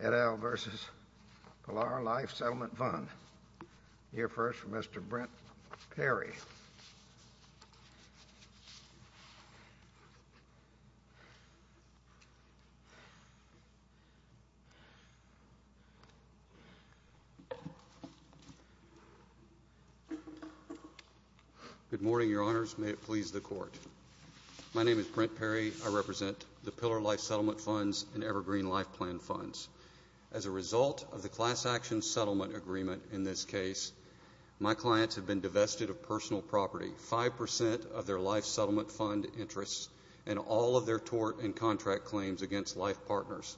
Et al. v. Pillar Life Settlement Fund. Here first, Mr. Brent Perry. Good morning, Your Honors. May it please the Court. My name is Brent Perry. I represent the Pillar Life Settlement Funds and Evergreen Life Plan Funds. As a result of the class action settlement agreement in this case, my clients have been divested of personal property, 5% of their Life Settlement Fund interests, and all of their tort and contract claims against Life Partners.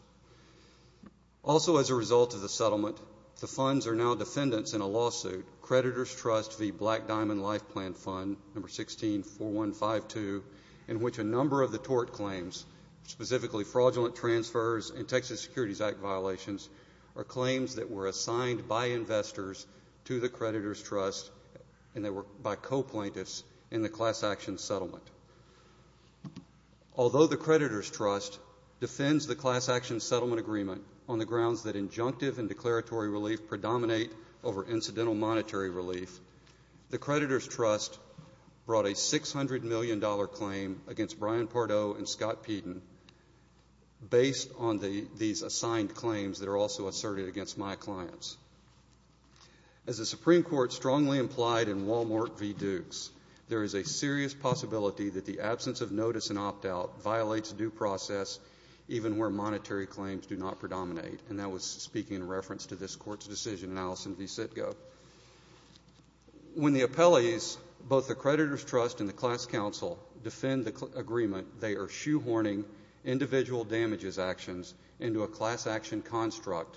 Also as a result of the settlement, the funds are now defendants in a lawsuit, Creditors Trust v. Black Diamond Life Plan Fund No. 164152, in which a number of the tort claims, specifically fraudulent transfers and Texas Securities Act violations, are claims that were assigned by investors to the Creditors Trust and that were by co-plaintiffs in the class action settlement. Although the Creditors Trust defends the class action settlement agreement on the grounds that injunctive and declaratory relief predominate over incidental monetary relief, the Creditors Trust brought a $600 million claim against Brian Pardo and Scott Peden based on these assigned claims that are also asserted against my clients. As the Supreme Court strongly implied in Wal-Mart v. Dukes, there is a serious possibility that the absence of notice and opt-out violates due process even where monetary claims do not predominate, and that was speaking in reference to this Court's decision in Allison v. Sitko. When the appellees, both the Creditors Trust and the class counsel, defend the agreement, they are shoehorning individual damages actions into a class action construct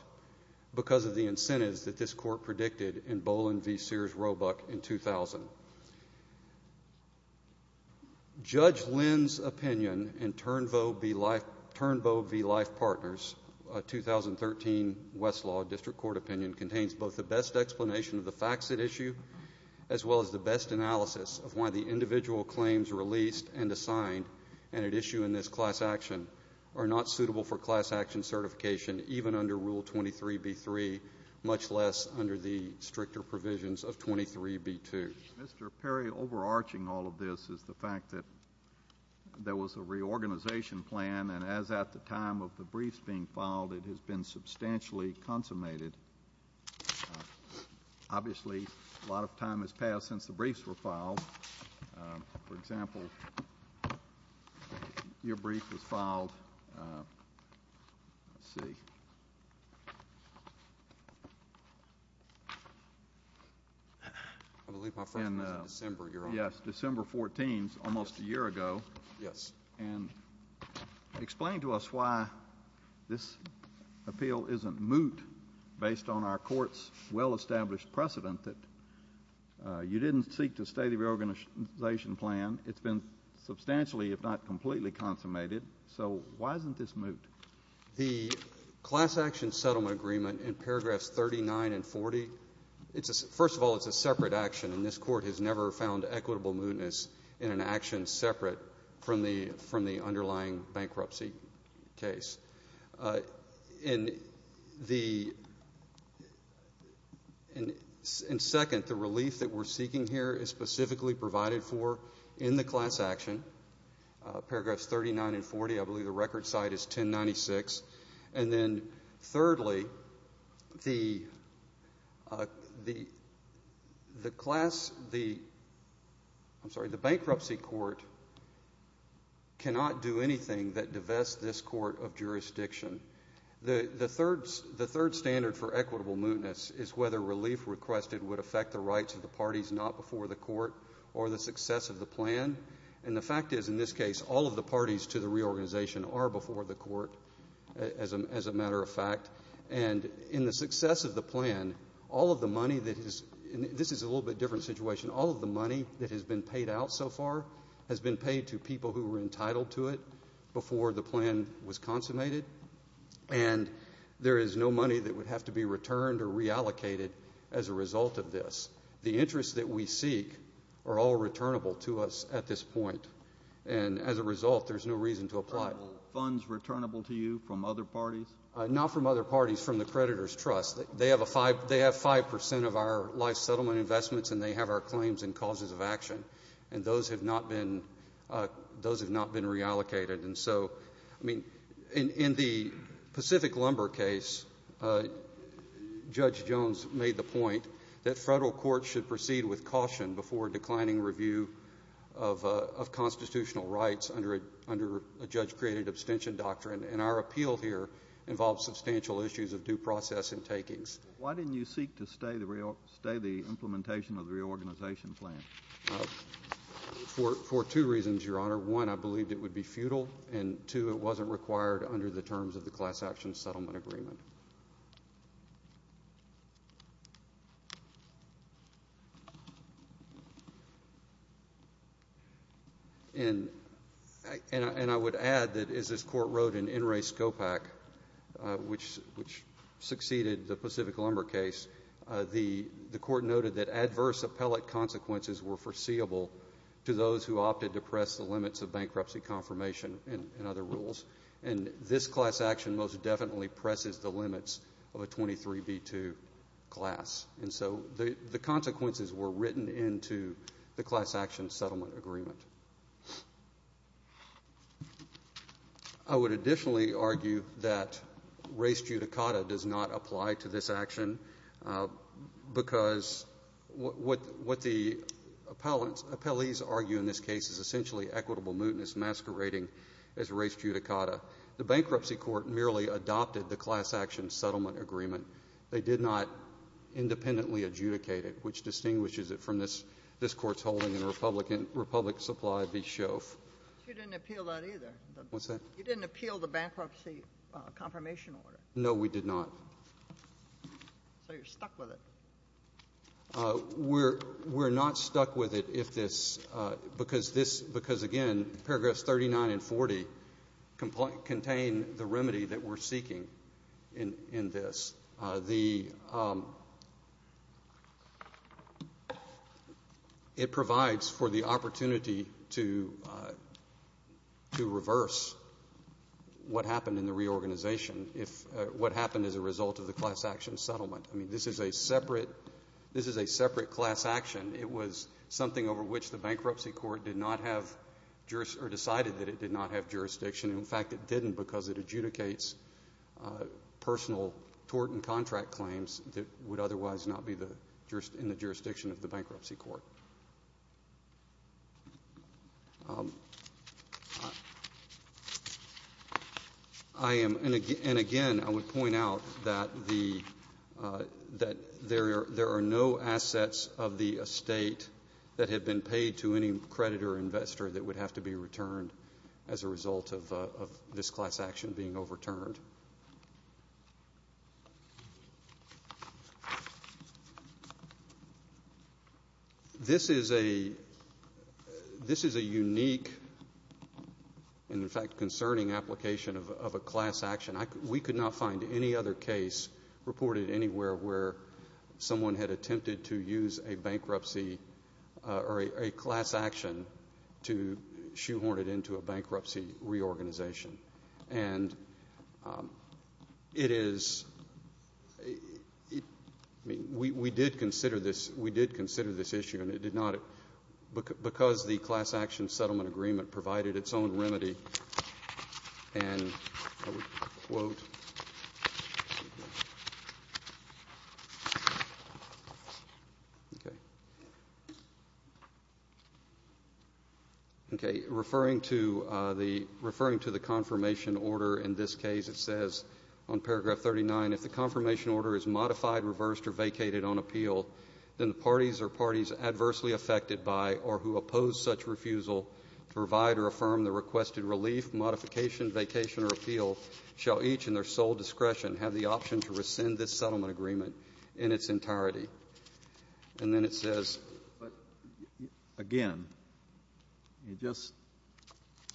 because of the incentives that this Court predicted in Boland v. Sears Roebuck in 2000. Judge Lynn's opinion in Turnboe v. Life Partners, a 2013 Westlaw District Court opinion, contains both the best explanation of the facts at issue as well as the best analysis of why the individual claims released and assigned and at issue in this class action are not suitable for class action certification even under Rule 23b-3, much less under the stricter provisions of 23b-2. Mr. Perry, overarching all of this is the fact that there was a reorganization plan and as at the time of the briefs being filed, it has been substantially consummated. Obviously, a lot of time has passed since the briefs were filed. For example, your brief was filed, let's see, in December 14, almost a year ago, and explained to us why this appeal isn't moot based on our Court's well-established precedent that you didn't seek to stay the reorganization plan. It's been substantially, if not completely, consummated. So why isn't this moot? The class action settlement agreement in paragraphs 39 and 40, first of all, it's a separate action and this Court has never found equitable mootness in an action separate from the underlying bankruptcy case. And second, the relief that we're seeking here is specifically provided for in the class action. Paragraphs 39 and 40, I believe the record site is 1096. And then thirdly, the class, I'm sorry, the bankruptcy court cannot do anything that divests this court of jurisdiction. The third standard for equitable mootness is whether relief requested would affect the rights of the parties not before the court or the success of the plan. And the fact is, in this case, all of the parties to the reorganization are before the court, as a matter of fact. And in the success of the plan, all of the money that has been paid out so far has been paid to people who were entitled to it before the plan was consummated. And there is no money that would have to be returned or reallocated as a result of this. The interests that we seek are all returnable to us at this point. And as a result, there's no reason to apply. Are the funds returnable to you from other parties? Not from other parties, from the creditors' trust. They have 5 percent of our life settlement investments, and they have our claims and causes of action. And those have not been reallocated. And so, I mean, in the Pacific Lumber case, Judge Jones made the point that Federal courts should proceed with caution before declining review of constitutional rights under a judge-created abstention doctrine. And our appeal here involves substantial issues of due process and takings. Why didn't you seek to stay the implementation of the reorganization plan? For two reasons, Your Honor. One, I believed it would be futile. And, two, it wasn't required under the terms of the Class Action Settlement Agreement. And I would add that as this Court wrote in In Re Scopac, which succeeded the Pacific Lumber case, the Court noted that adverse appellate consequences were foreseeable to those who opted to press the limits of bankruptcy confirmation and other rules. And this class action most definitely presses the limits of a 23b2 class. And so the consequences were written into the Class Action Settlement Agreement. I would additionally argue that res judicata does not apply to this action because what the appellees argue in this case is essentially equitable mootness masquerading as res judicata. The bankruptcy court merely adopted the Class Action Settlement Agreement. They did not independently adjudicate it, which distinguishes it from this Court's ruling in Republic Supply v. Shoeff. You didn't appeal that either. What's that? You didn't appeal the bankruptcy confirmation order. No, we did not. So you're stuck with it. We're not stuck with it because, again, paragraphs 39 and 40 contain the remedy that we're seeking in this. It provides for the opportunity to reverse what happened in the reorganization, what happened as a result of the class action settlement. I mean, this is a separate class action. It was something over which the bankruptcy court did not have or decided that it did not have jurisdiction. In fact, it didn't because it adjudicates personal tort and contract claims that would otherwise not be the jurisdiction of the bankruptcy court. And, again, I would point out that there are no assets of the estate that have been paid to any creditor or investor that would have to be returned as a result of this class action being overturned. This is a unique and, in fact, concerning application of a class action. We could not find any other case reported anywhere where someone had attempted to use a bankruptcy or a class action to shoehorn it into a bankruptcy reorganization. And it is we did consider this issue and it did not because the class action settlement agreement provided its own remedy and I would quote. Okay. Referring to the confirmation order in this case, it says on paragraph 39, if the confirmation order is modified, reversed, or vacated on appeal, then the parties or parties adversely affected by or who oppose such refusal to provide or affirm the requested relief, modification, vacation, or appeal shall each in their sole discretion have the option to rescind this settlement agreement in its entirety. And then it says. But, again, you just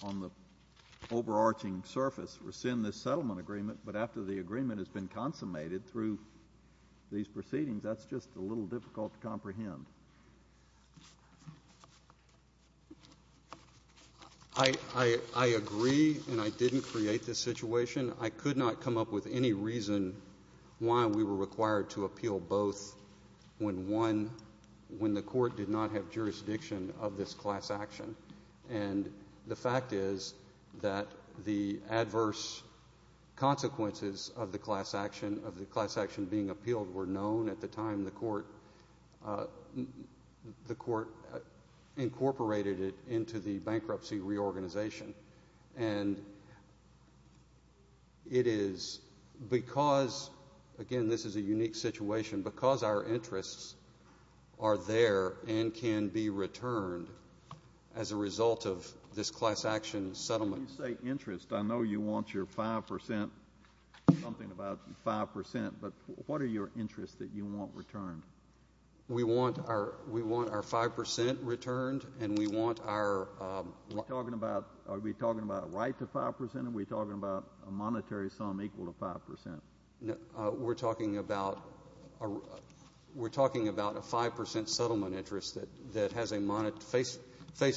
on the overarching surface rescind this settlement agreement, but after the agreement has been consummated through these proceedings, that's just a little difficult to comprehend. I agree and I didn't create this situation. I could not come up with any reason why we were required to appeal both when one, when the court did not have jurisdiction of this class action. And the fact is that the adverse consequences of the class action, of the class action being appealed, were known at the time the court incorporated it into the bankruptcy reorganization. And it is because, again, this is a unique situation, because our interests are there and can be returned as a result of this class action settlement. When you say interest, I know you want your five percent, something about five percent, but what are your interests that you want returned? We want our five percent returned and we want our. Are we talking about a right to five percent or are we talking about a monetary sum equal to five percent? We're talking about a five percent settlement interest that has a face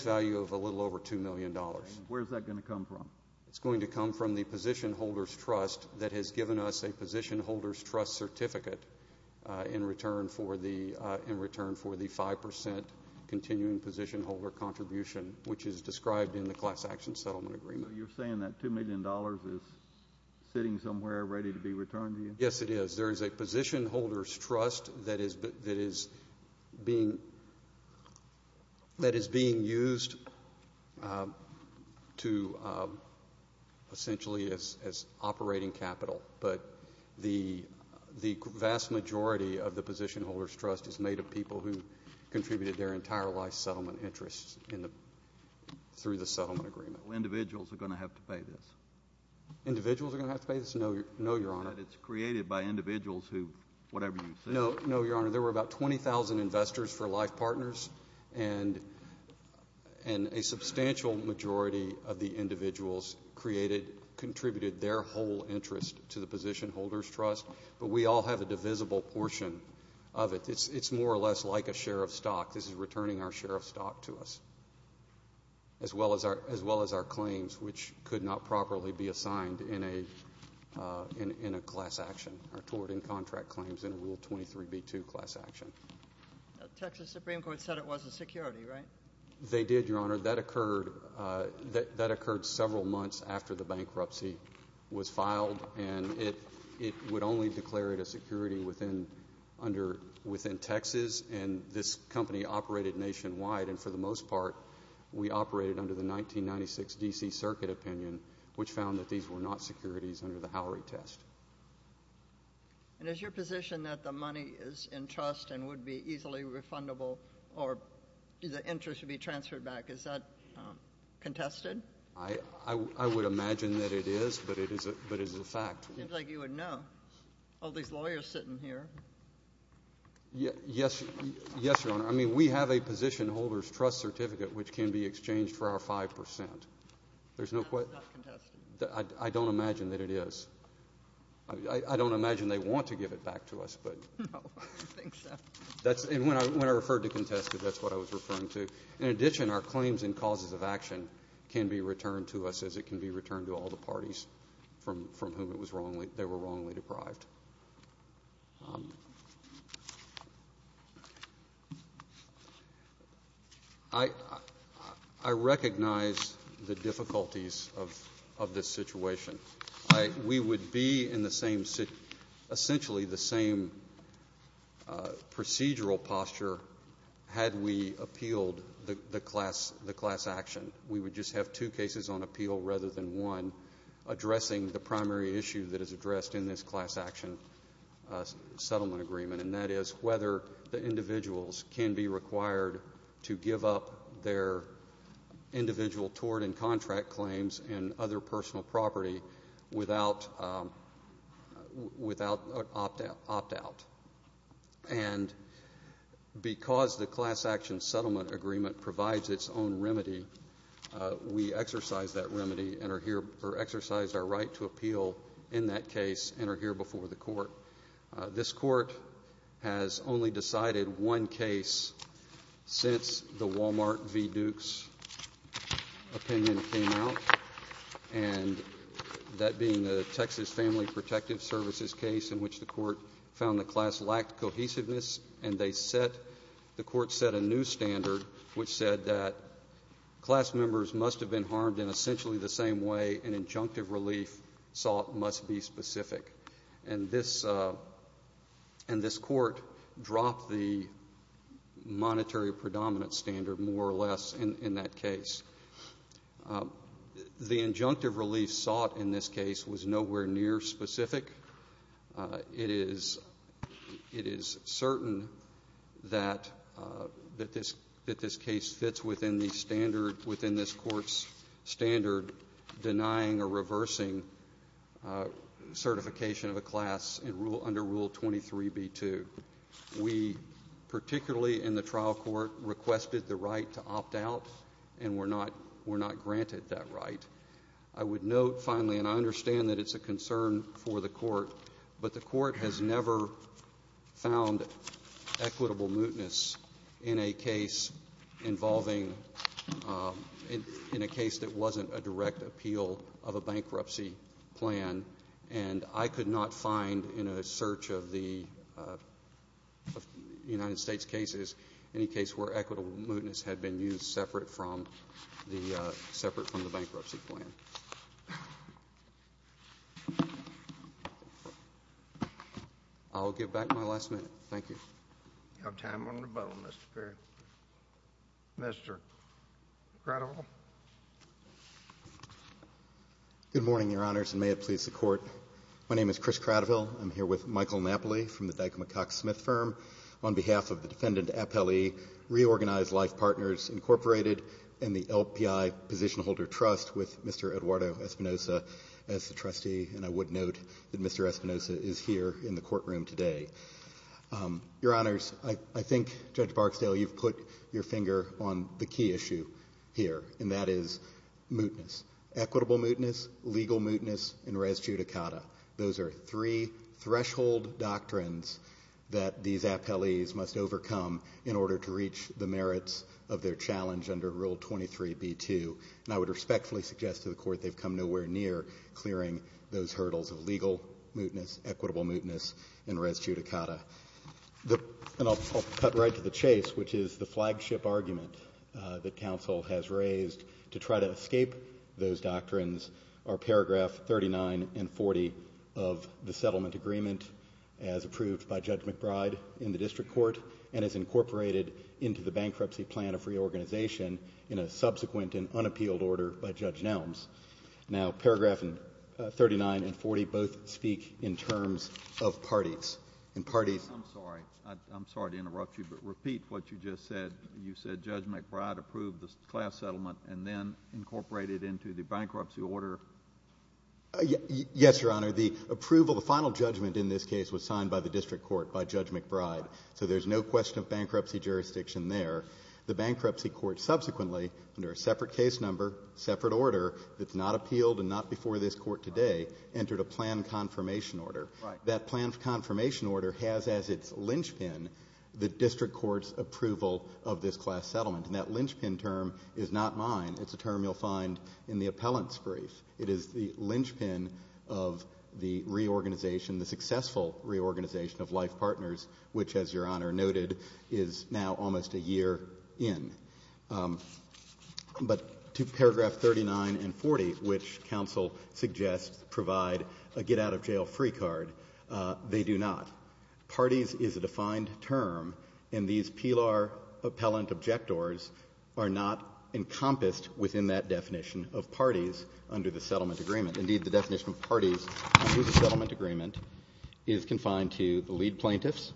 value of a little over two million dollars. Where is that going to come from? It's going to come from the position holder's trust that has given us a position holder's trust certificate in return for the five percent continuing position holder contribution, which is described in the class action settlement agreement. So you're saying that two million dollars is sitting somewhere ready to be returned to you? Yes, it is. There is a position holder's trust that is being used to essentially as operating capital. But the vast majority of the position holder's trust is made of people who contributed their entire life's settlement interests through the settlement agreement. So individuals are going to have to pay this? Individuals are going to have to pay this? No, Your Honor. It's created by individuals who, whatever you say. No, Your Honor. There were about 20,000 investors for life partners and a substantial majority of the individuals created, contributed their whole interest to the position holder's trust. But we all have a divisible portion of it. It's more or less like a share of stock. This is returning our share of stock to us, as well as our claims, which could not properly be assigned in a class action, our tort and contract claims in a Rule 23b-2 class action. The Texas Supreme Court said it wasn't security, right? They did, Your Honor. That occurred several months after the bankruptcy was filed, and it would only declare it a security within Texas. And this company operated nationwide, and for the most part, we operated under the 1996 D.C. Circuit opinion, which found that these were not securities under the Howery test. And is your position that the money is in trust and would be easily refundable or the interest would be transferred back, is that contested? I would imagine that it is, but it is a fact. It seems like you would know. All these lawyers sitting here. Yes, Your Honor. I mean, we have a position holder's trust certificate, which can be exchanged for our 5%. That's not contested. I don't imagine that it is. I don't imagine they want to give it back to us. No, I don't think so. And when I referred to contested, that's what I was referring to. In addition, our claims and causes of action can be returned to us from whom they were wrongly deprived. I recognize the difficulties of this situation. We would be in essentially the same procedural posture had we appealed the class action. We would just have two cases on appeal rather than one, addressing the primary issue that is addressed in this class action settlement agreement, and that is whether the individuals can be required to give up their individual tort and contract claims and other personal property without an opt-out. And because the class action settlement agreement provides its own remedy, we exercise that remedy and are here or exercise our right to appeal in that case and are here before the court. This court has only decided one case since the Walmart v. Dukes opinion came out, and that being the Texas Family Protective Services case in which the court found the class lacked cohesiveness, and the court set a new standard which said that class members must have been harmed in essentially the same way an injunctive relief sought must be specific. And this court dropped the monetary predominant standard more or less in that case. The injunctive relief sought in this case was nowhere near specific. It is certain that this case fits within the standard, within this court's standard denying or reversing certification of a class under Rule 23b-2. We particularly in the trial court requested the right to opt out, and we're not granted that right. I would note finally, and I understand that it's a concern for the court, but the court has never found equitable mootness in a case involving – in a case that wasn't a direct appeal of a bankruptcy plan, and I could not find in a search of the United States cases any case where equitable mootness had been used separate from the bankruptcy plan. I'll give back my last minute. Thank you. You have time on your button, Mr. Perry. Mr. Cradiville. Good morning, Your Honors, and may it please the Court. My name is Chris Cradiville. I'm here with Michael Napoli from the Dyke-McCox Smith Firm, on behalf of the Defendant Appellee, Reorganized Life Partners, Incorporated, and the LPI Position Holder Trust with Mr. Eduardo Espinosa as the trustee, and I would note that Mr. Espinosa is here in the courtroom today. Your Honors, I think, Judge Barksdale, you've put your finger on the key issue here, and that is mootness, equitable mootness, legal mootness, and res judicata. Those are three threshold doctrines that these appellees must overcome in order to reach the merits of their challenge under Rule 23b-2, and I would respectfully suggest to the Court they've come nowhere near clearing those hurdles of legal mootness, equitable mootness, and res judicata. And I'll cut right to the chase, which is the flagship argument that counsel has raised to try to escape those doctrines are Paragraph 39 and 40 of the settlement agreement as approved by Judge McBride in the District Court and as incorporated into the bankruptcy plan of reorganization in a subsequent and unappealed order by Judge Nelms. Now, Paragraph 39 and 40 both speak in terms of parties, and parties— I'm sorry. I'm sorry to interrupt you, but repeat what you just said. You said Judge McBride approved the class settlement and then incorporated it into the bankruptcy order. Yes, Your Honor. The approval, the final judgment in this case was signed by the District Court by Judge McBride, so there's no question of bankruptcy jurisdiction there. The bankruptcy court subsequently, under a separate case number, separate order, that's not appealed and not before this Court today, entered a plan confirmation order. Right. That plan confirmation order has as its linchpin the District Court's approval of this class settlement. And that linchpin term is not mine. It's a term you'll find in the appellant's brief. It is the linchpin of the reorganization, the successful reorganization of life partners, which, as Your Honor noted, is now almost a year in. But to paragraph 39 and 40, which counsel suggests provide a get-out-of-jail-free card, they do not. Parties is a defined term, and these PELAR appellant objectors are not encompassed within that definition of parties under the settlement agreement. Indeed, the definition of parties under the settlement agreement is confined to the lead plaintiffs,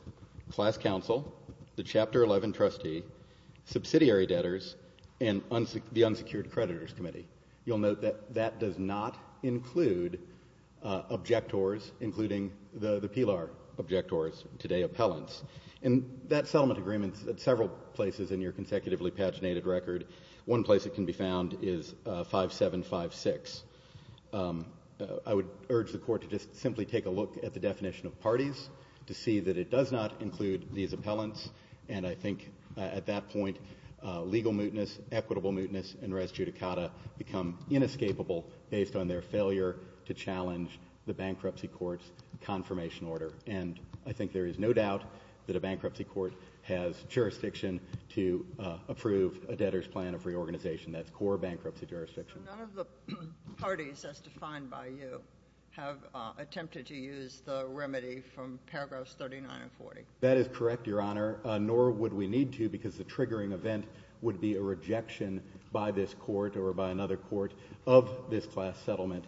class counsel, the Chapter 11 trustee, subsidiary debtors, and the unsecured creditors committee. You'll note that that does not include objectors, including the PELAR objectors, today appellants. And that settlement agreement is at several places in your consecutively paginated record. One place it can be found is 5756. I would urge the court to just simply take a look at the definition of parties to see that it does not include these appellants. And I think at that point, legal mootness, equitable mootness, and res judicata become inescapable based on their failure to challenge the bankruptcy court's confirmation order. And I think there is no doubt that a bankruptcy court has jurisdiction to approve a debtor's plan of reorganization. That's core bankruptcy jurisdiction. None of the parties as defined by you have attempted to use the remedy from paragraphs 39 and 40. That is correct, Your Honor, nor would we need to because the triggering event would be a rejection by this court or by another court of this class settlement.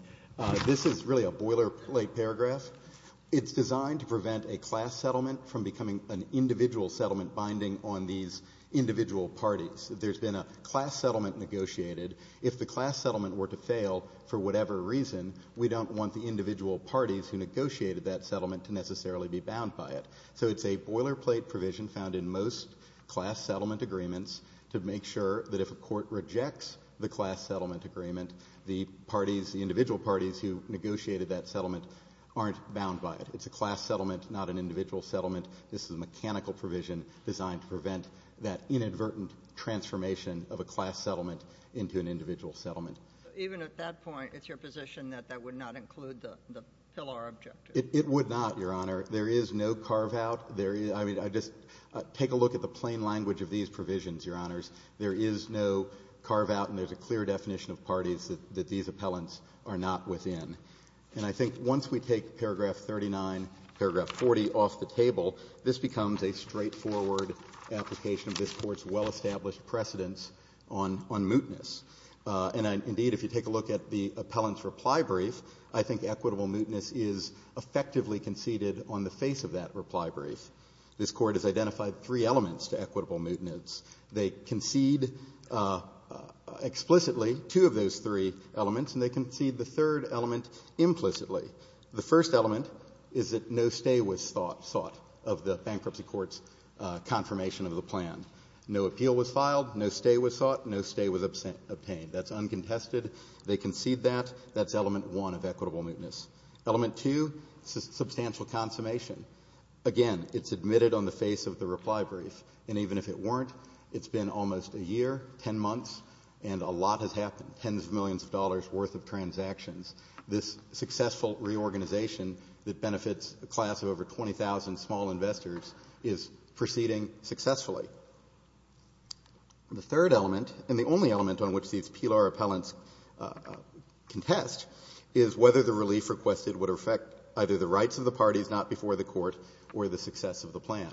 This is really a boilerplate paragraph. It's designed to prevent a class settlement from becoming an individual settlement binding on these individual parties. There's been a class settlement negotiated. If the class settlement were to fail for whatever reason, we don't want the individual parties who negotiated that settlement to necessarily be bound by it. So it's a boilerplate provision found in most class settlement agreements to make sure that if a court rejects the class settlement agreement, the parties, the individual parties who negotiated that settlement aren't bound by it. It's a class settlement, not an individual settlement. This is a mechanical provision designed to prevent that inadvertent transformation of a class settlement into an individual settlement. Even at that point, it's your position that that would not include the pillar objective? It would not, Your Honor. There is no carve-out. I mean, just take a look at the plain language of these provisions, Your Honors. There is no carve-out, and there's a clear definition of parties that these appellants are not within. And I think once we take paragraph 39, paragraph 40 off the table, this becomes a straightforward application of this Court's well-established precedence on mootness. And indeed, if you take a look at the appellant's reply brief, I think equitable mootness is effectively conceded on the face of that reply brief. This Court has identified three elements to equitable mootness. They concede explicitly two of those three elements, and they concede the third element implicitly. The first element is that no stay was thought of the bankruptcy court's confirmation of the plan. No appeal was filed. No stay was sought. No stay was obtained. That's uncontested. They concede that. That's element one of equitable mootness. Element two, substantial consummation. Again, it's admitted on the face of the reply brief, and even if it weren't, it's been almost a year, 10 months, and a lot has happened, tens of millions of dollars' worth of transactions. This successful reorganization that benefits a class of over 20,000 small investors is proceeding successfully. The third element, and the only element on which these PLR appellants contest, is whether the relief requested would affect either the rights of the parties not before the court or the success of the plan.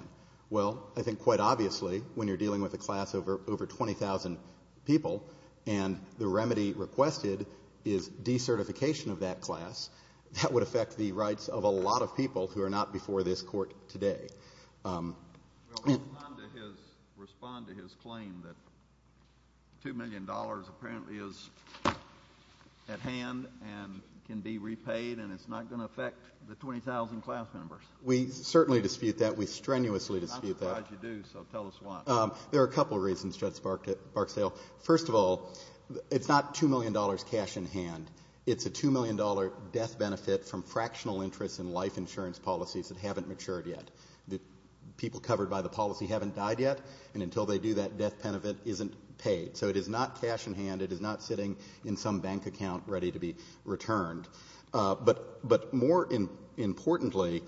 Well, I think quite obviously, when you're dealing with a class of over 20,000 people and the remedy requested is decertification of that class, that would affect the rights of a lot of people who are not before this Court today. Respond to his claim that $2 million apparently is at hand and can be repaid and it's not going to affect the 20,000 class members. We certainly dispute that. We strenuously dispute that. I'm surprised you do, so tell us why. There are a couple of reasons, Judge Barksdale. First of all, it's not $2 million cash in hand. It's a $2 million death benefit from fractional interest in life insurance policies that haven't matured yet. The people covered by the policy haven't died yet, and until they do, that death benefit isn't paid. So it is not cash in hand. It is not sitting in some bank account ready to be returned. But more importantly,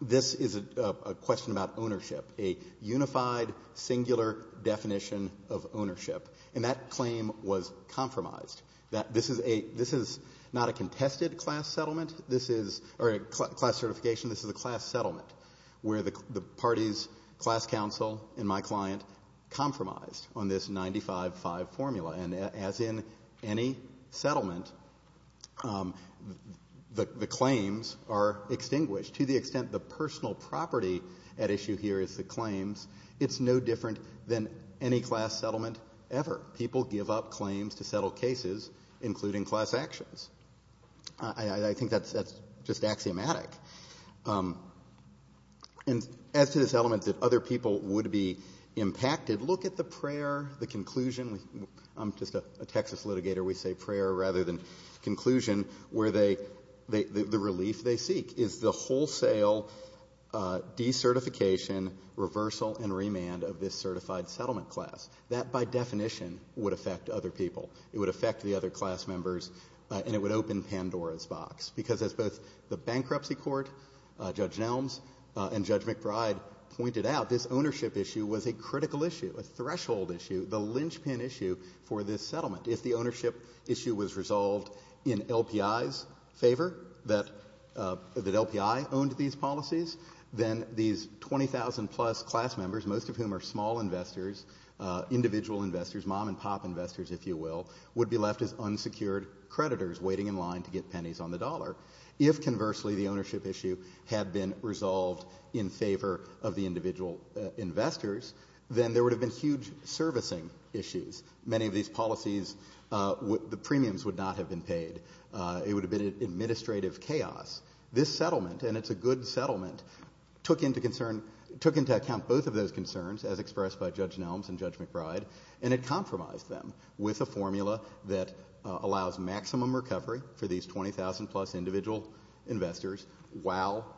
this is a question about ownership, a unified, singular definition of ownership, and that claim was compromised, that this is not a contested class settlement, or a class certification, this is a class settlement where the party's class counsel and my client compromised on this 95-5 formula. And as in any settlement, the claims are extinguished. To the extent the personal property at issue here is the claims, it's no different than any class settlement ever. People give up claims to settle cases, including class actions. I think that's just axiomatic. And as to this element that other people would be impacted, look at the prayer, the conclusion. I'm just a Texas litigator. We say prayer rather than conclusion, where the relief they seek is the wholesale decertification, reversal, and remand of this certified settlement class. That, by definition, would affect other people. It would affect the other class members, and it would open Pandora's box, because as both the bankruptcy court, Judge Nelms, and Judge McBride pointed out, this ownership issue was a critical issue, a threshold issue, the linchpin issue for this settlement. If the ownership issue was resolved in LPI's favor, that LPI owned these policies, then these 20,000-plus class members, most of whom are small investors, individual investors, mom-and-pop investors, if you will, would be left as unsecured creditors waiting in line to get pennies on the dollar. If, conversely, the ownership issue had been resolved in favor of the individual investors, then there would have been huge servicing issues. Many of these policies, the premiums would not have been paid. It would have been administrative chaos. This settlement, and it's a good settlement, took into account both of those concerns, as expressed by Judge Nelms and Judge McBride, and it compromised them with a formula that allows maximum recovery for these 20,000-plus individual investors while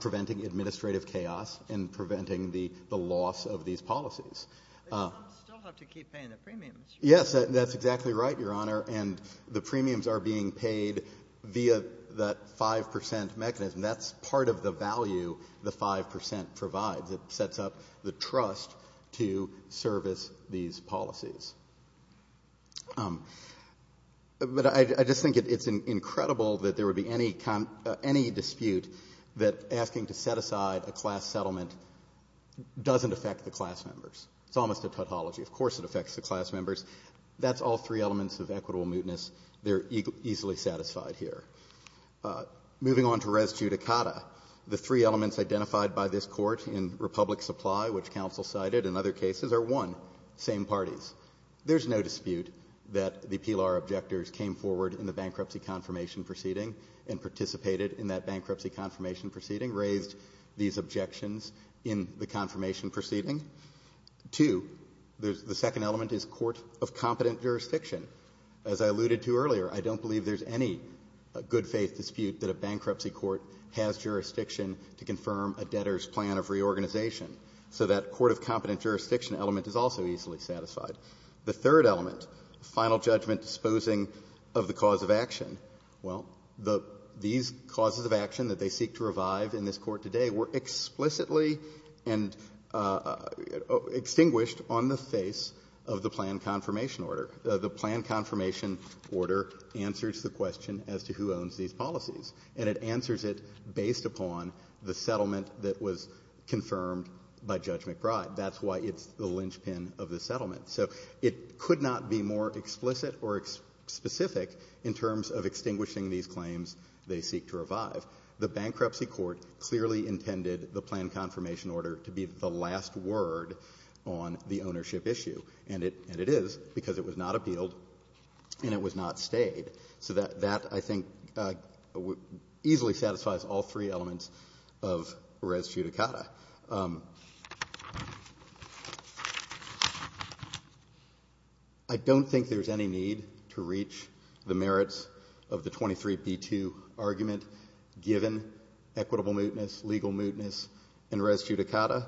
preventing administrative chaos and preventing the loss of these policies. But some still have to keep paying the premiums. Yes, that's exactly right, Your Honor, and the premiums are being paid via that 5 percent mechanism. That's part of the value the 5 percent provides. It sets up the trust to service these policies. But I just think it's incredible that there would be any dispute that asking to set aside a class settlement doesn't affect the class members. It's almost a tautology. Of course it affects the class members. That's all three elements of equitable mootness. They're easily satisfied here. Moving on to res judicata, the three elements identified by this Court in Republic Supply, which counsel cited in other cases, are, one, same parties. There's no dispute that the PLR objectors came forward in the bankruptcy confirmation proceeding and participated in that bankruptcy confirmation proceeding, raised these objections in the confirmation proceeding. Two, the second element is court of competent jurisdiction. As I alluded to earlier, I don't believe there's any good-faith dispute that a bankruptcy court has jurisdiction to confirm a debtor's plan of reorganization. So that court of competent jurisdiction element is also easily satisfied. The third element, final judgment disposing of the cause of action, well, these causes of action that they seek to revive in this Court today were explicitly and extinguished on the face of the plan confirmation order. The plan confirmation order answers the question as to who owns these policies. And it answers it based upon the settlement that was confirmed by Judge McBride. That's why it's the linchpin of the settlement. So it could not be more explicit or specific in terms of extinguishing these claims they seek to revive. The bankruptcy court clearly intended the plan confirmation order to be the last word on the ownership issue. And it is, because it was not appealed and it was not stayed. So that, I think, easily satisfies all three elements of res judicata. I don't think there's any need to reach the merits of the 23b2 argument given equitable mootness, legal mootness, and res judicata.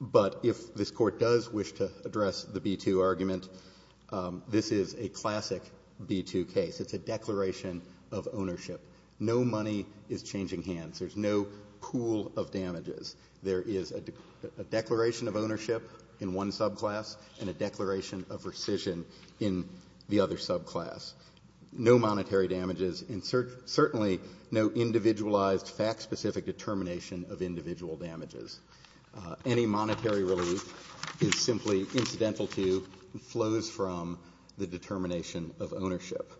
But if this Court does wish to address the b2 argument, this is a classic b2 case. It's a declaration of ownership. No money is changing hands. There's no pool of damages. There is a declaration of ownership in one subclass and a declaration of rescission in the other subclass. No monetary damages and certainly no individualized, fact-specific determination of individual damages. Any monetary relief is simply incidental to and flows from the determination of ownership.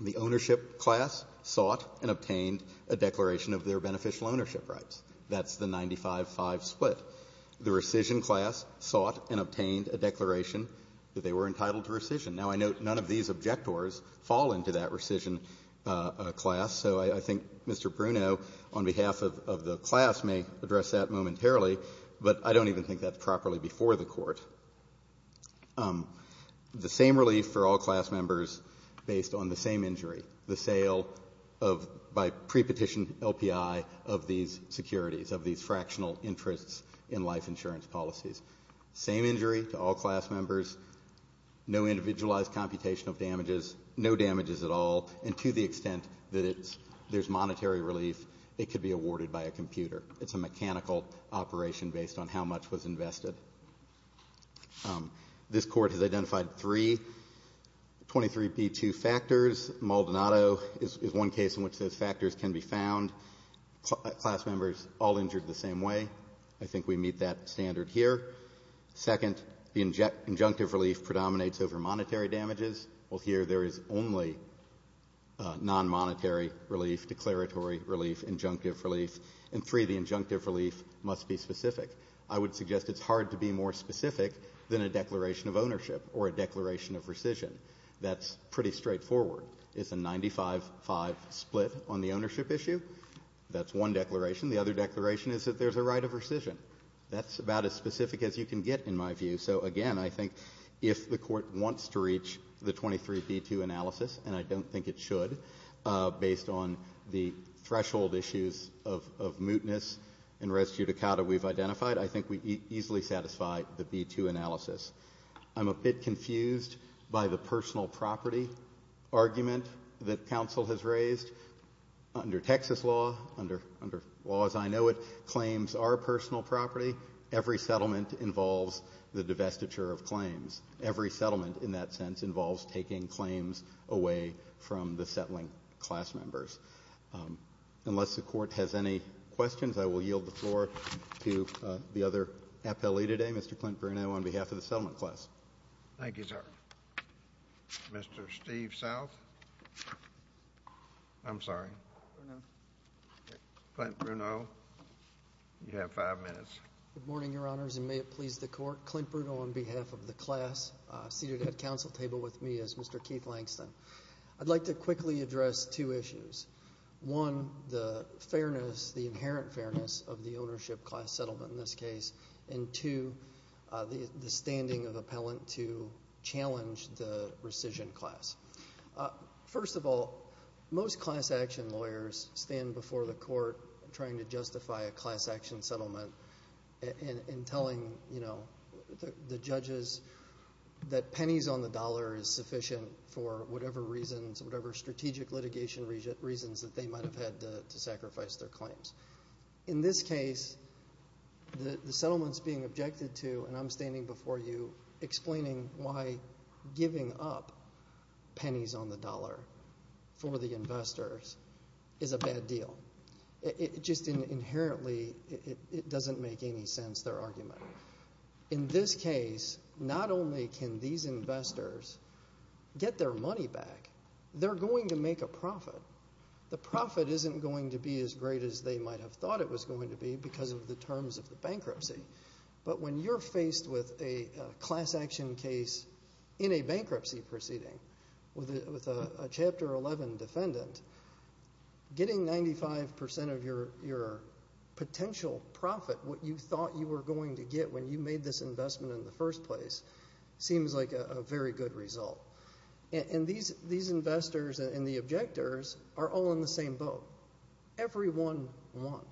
The ownership class sought and obtained a declaration of their beneficial ownership rights. That's the 95-5 split. The rescission class sought and obtained a declaration that they were entitled to rescission. Now, I note none of these objectors fall into that rescission class. So I think Mr. Bruno, on behalf of the class, may address that momentarily, but I don't even think that's properly before the Court. The same relief for all class members based on the same injury, the sale of, by prepetition LPI, of these securities, of these fractional interests in life insurance policies. Same injury to all class members, no individualized computation of damages, no damages at all, and to the extent that there's monetary relief, it could be awarded by a computer. It's a mechanical operation based on how much was invested. This Court has identified three 23B2 factors. Maldonado is one case in which those factors can be found. Class members all injured the same way. I think we meet that standard here. Second, the injunctive relief predominates over monetary damages. Well, here there is only non-monetary relief, declaratory relief, injunctive relief. And three, the injunctive relief must be specific. I would suggest it's hard to be more specific than a declaration of ownership or a declaration of rescission. That's pretty straightforward. It's a 95-5 split on the ownership issue. That's one declaration. The other declaration is that there's a right of rescission. That's about as specific as you can get, in my view. So, again, I think if the Court wants to reach the 23B2 analysis, and I don't think it should based on the threshold issues of mootness and res judicata we've identified, I think we easily satisfy the B2 analysis. I'm a bit confused by the personal property argument that counsel has raised. Under Texas law, under law as I know it, claims are personal property. Every settlement involves the divestiture of claims. Every settlement in that sense involves taking claims away from the settling class members. Unless the Court has any questions, I will yield the floor to the other appellee today, Mr. Clint Bruno, on behalf of the settlement class. Thank you, sir. Mr. Steve South. I'm sorry. Clint Bruno. You have five minutes. Good morning, Your Honors, and may it please the Court. Clint Bruno on behalf of the class, seated at council table with me is Mr. Keith Langston. I'd like to quickly address two issues. One, the fairness, the inherent fairness of the ownership class settlement in this case, and two, the standing of appellant to challenge the rescission class. First of all, most class action lawyers stand before the Court trying to justify a class action settlement and telling the judges that pennies on the dollar is sufficient for whatever reasons, whatever strategic litigation reasons that they might have had to sacrifice their claims. In this case, the settlements being objected to, and I'm standing before you, explaining why giving up pennies on the dollar for the investors is a bad deal. It just inherently doesn't make any sense, their argument. In this case, not only can these investors get their money back, they're going to make a profit. The profit isn't going to be as great as they might have thought it was going to be because of the terms of the bankruptcy. But when you're faced with a class action case in a bankruptcy proceeding with a Chapter 11 defendant, getting 95% of your potential profit, what you thought you were going to get when you made this investment in the first place, seems like a very good result. These investors and the objectors are all in the same boat. Everyone won.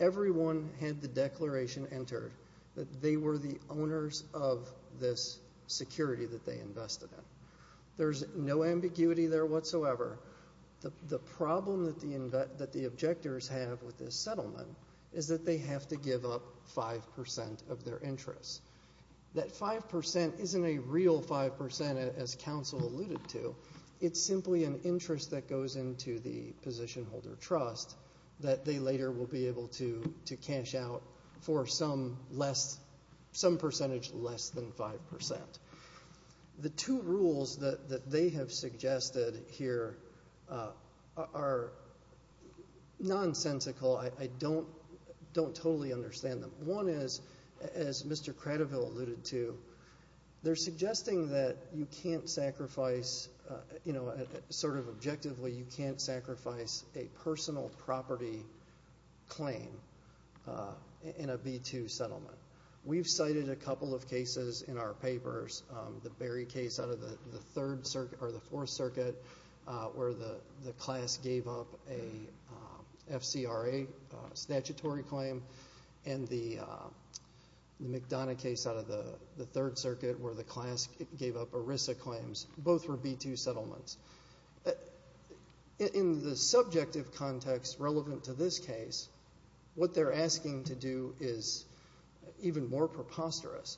Everyone had the declaration entered that they were the owners of this security that they invested in. There's no ambiguity there whatsoever. The problem that the objectors have with this settlement is that they have to give up 5% of their interest. That 5% isn't a real 5%, as counsel alluded to. It's simply an interest that goes into the position holder trust that they later will be able to cash out for some percentage less than 5%. The two rules that they have suggested here are nonsensical. I don't totally understand them. One is, as Mr. Cradoville alluded to, they're suggesting that you can't sacrifice, sort of objectively, you can't sacrifice a personal property claim in a B-2 settlement. We've cited a couple of cases in our papers. The Berry case out of the Fourth Circuit, where the class gave up a FCRA statutory claim, and the McDonough case out of the Third Circuit, where the class gave up ERISA claims. Both were B-2 settlements. In the subjective context relevant to this case, what they're asking to do is even more preposterous.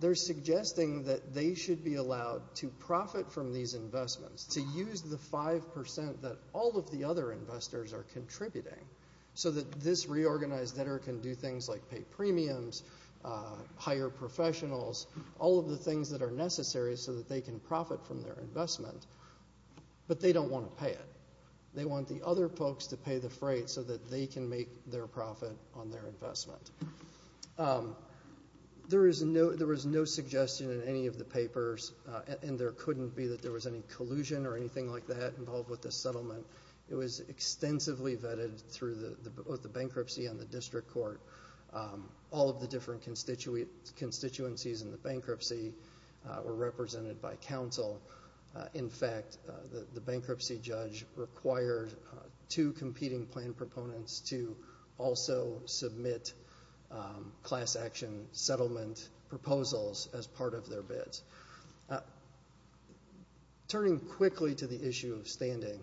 They're suggesting that they should be allowed to profit from these investments, to use the 5% that all of the other investors are contributing, so that this reorganized debtor can do things like pay premiums, hire professionals, all of the things that are necessary so that they can profit from their investment, but they don't want to pay it. They want the other folks to pay the freight so that they can make their profit on their investment. There was no suggestion in any of the papers, and there couldn't be that there was any collusion or anything like that involved with this settlement. It was extensively vetted through both the bankruptcy and the district court. All of the different constituencies in the bankruptcy were represented by counsel. In fact, the bankruptcy judge required two competing plan proponents to also submit class action settlement proposals as part of their bids. Turning quickly to the issue of standing,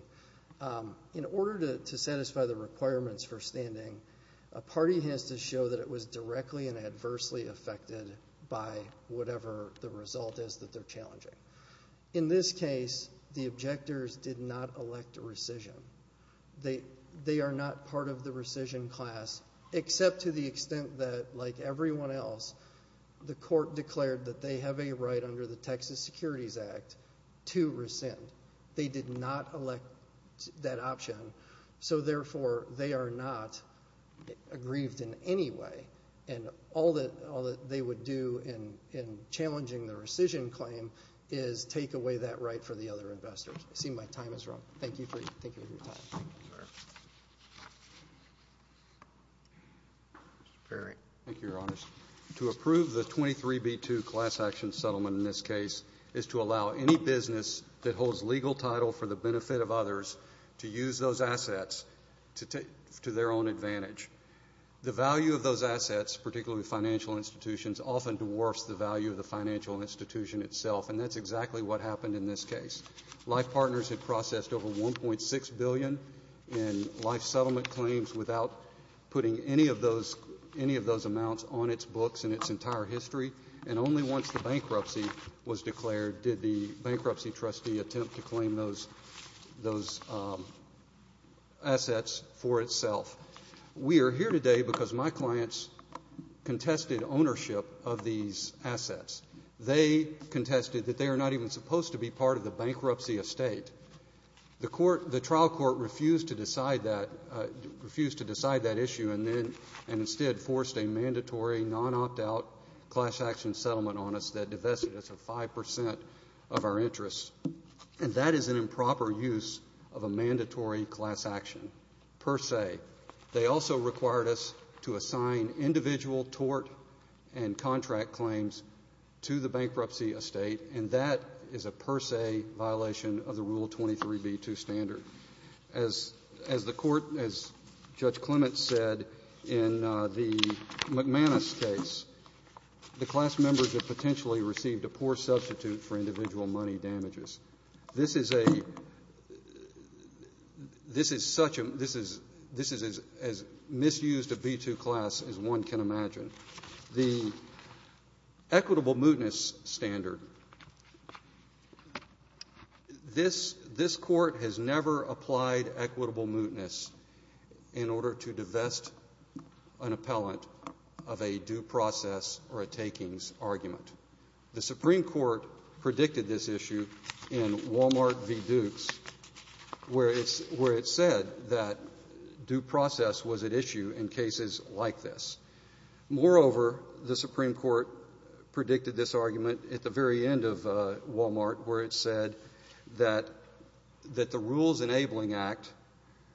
in order to satisfy the requirements for standing, a party has to show that it was directly and adversely affected by whatever the result is that they're challenging. In this case, the objectors did not elect rescission. They are not part of the rescission class, except to the extent that, like everyone else, the court declared that they have a right under the Texas Securities Act to rescind. They did not elect that option. So, therefore, they are not aggrieved in any way. And all that they would do in challenging the rescission claim is take away that right for the other investors. I see my time has run. Thank you for your time. Mr. Perry. Thank you, Your Honors. To approve the 23B2 class action settlement in this case is to allow any business that holds legal title for the benefit of others to use those assets to their own advantage. The value of those assets, particularly financial institutions, often dwarfs the value of the financial institution itself, and that's exactly what happened in this case. Life Partners had processed over $1.6 billion in life settlement claims without putting any of those amounts on its books in its entire history, and only once the bankruptcy was declared did the bankruptcy trustee attempt to claim those assets for itself. We are here today because my clients contested ownership of these assets. They contested that they are not even supposed to be part of the bankruptcy estate. The trial court refused to decide that issue and instead forced a mandatory non-opt-out class action settlement on us that divested us of 5% of our interest, and that is an improper use of a mandatory class action per se. They also required us to assign individual tort and contract claims to the bankruptcy estate, and that is a per se violation of the Rule 23b-2 standard. As the Court, as Judge Clement said in the McManus case, the class members have potentially received a poor substitute for individual money damages. This is a — this is such a — this is as misused a B-2 class as one can imagine. The equitable mootness standard, this Court has never applied equitable mootness in order to divest an appellant of a due process or a takings argument. The Supreme Court predicted this issue in Wal-Mart v. Dukes, where it said that due process was at issue in cases like this. Moreover, the Supreme Court predicted this argument at the very end of Wal-Mart, where it said that the Rules Enabling Act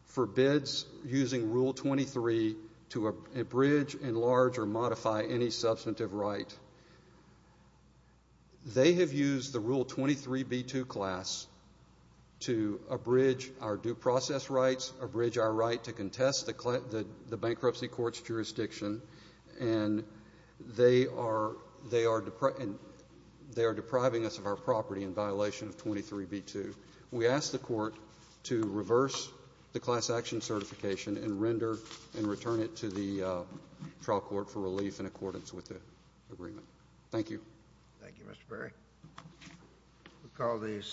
forbids using Rule 23 to abridge, enlarge, or modify any substantive right. They have used the Rule 23b-2 class to abridge our due process rights, abridge our right to contest the bankruptcy court's jurisdiction, and they are depriving us of our property in violation of 23b-2. We ask the Court to reverse the class action certification and render and return it to the trial court for relief in accordance with the agreement. Thank you. Thank you, Mr. Perry.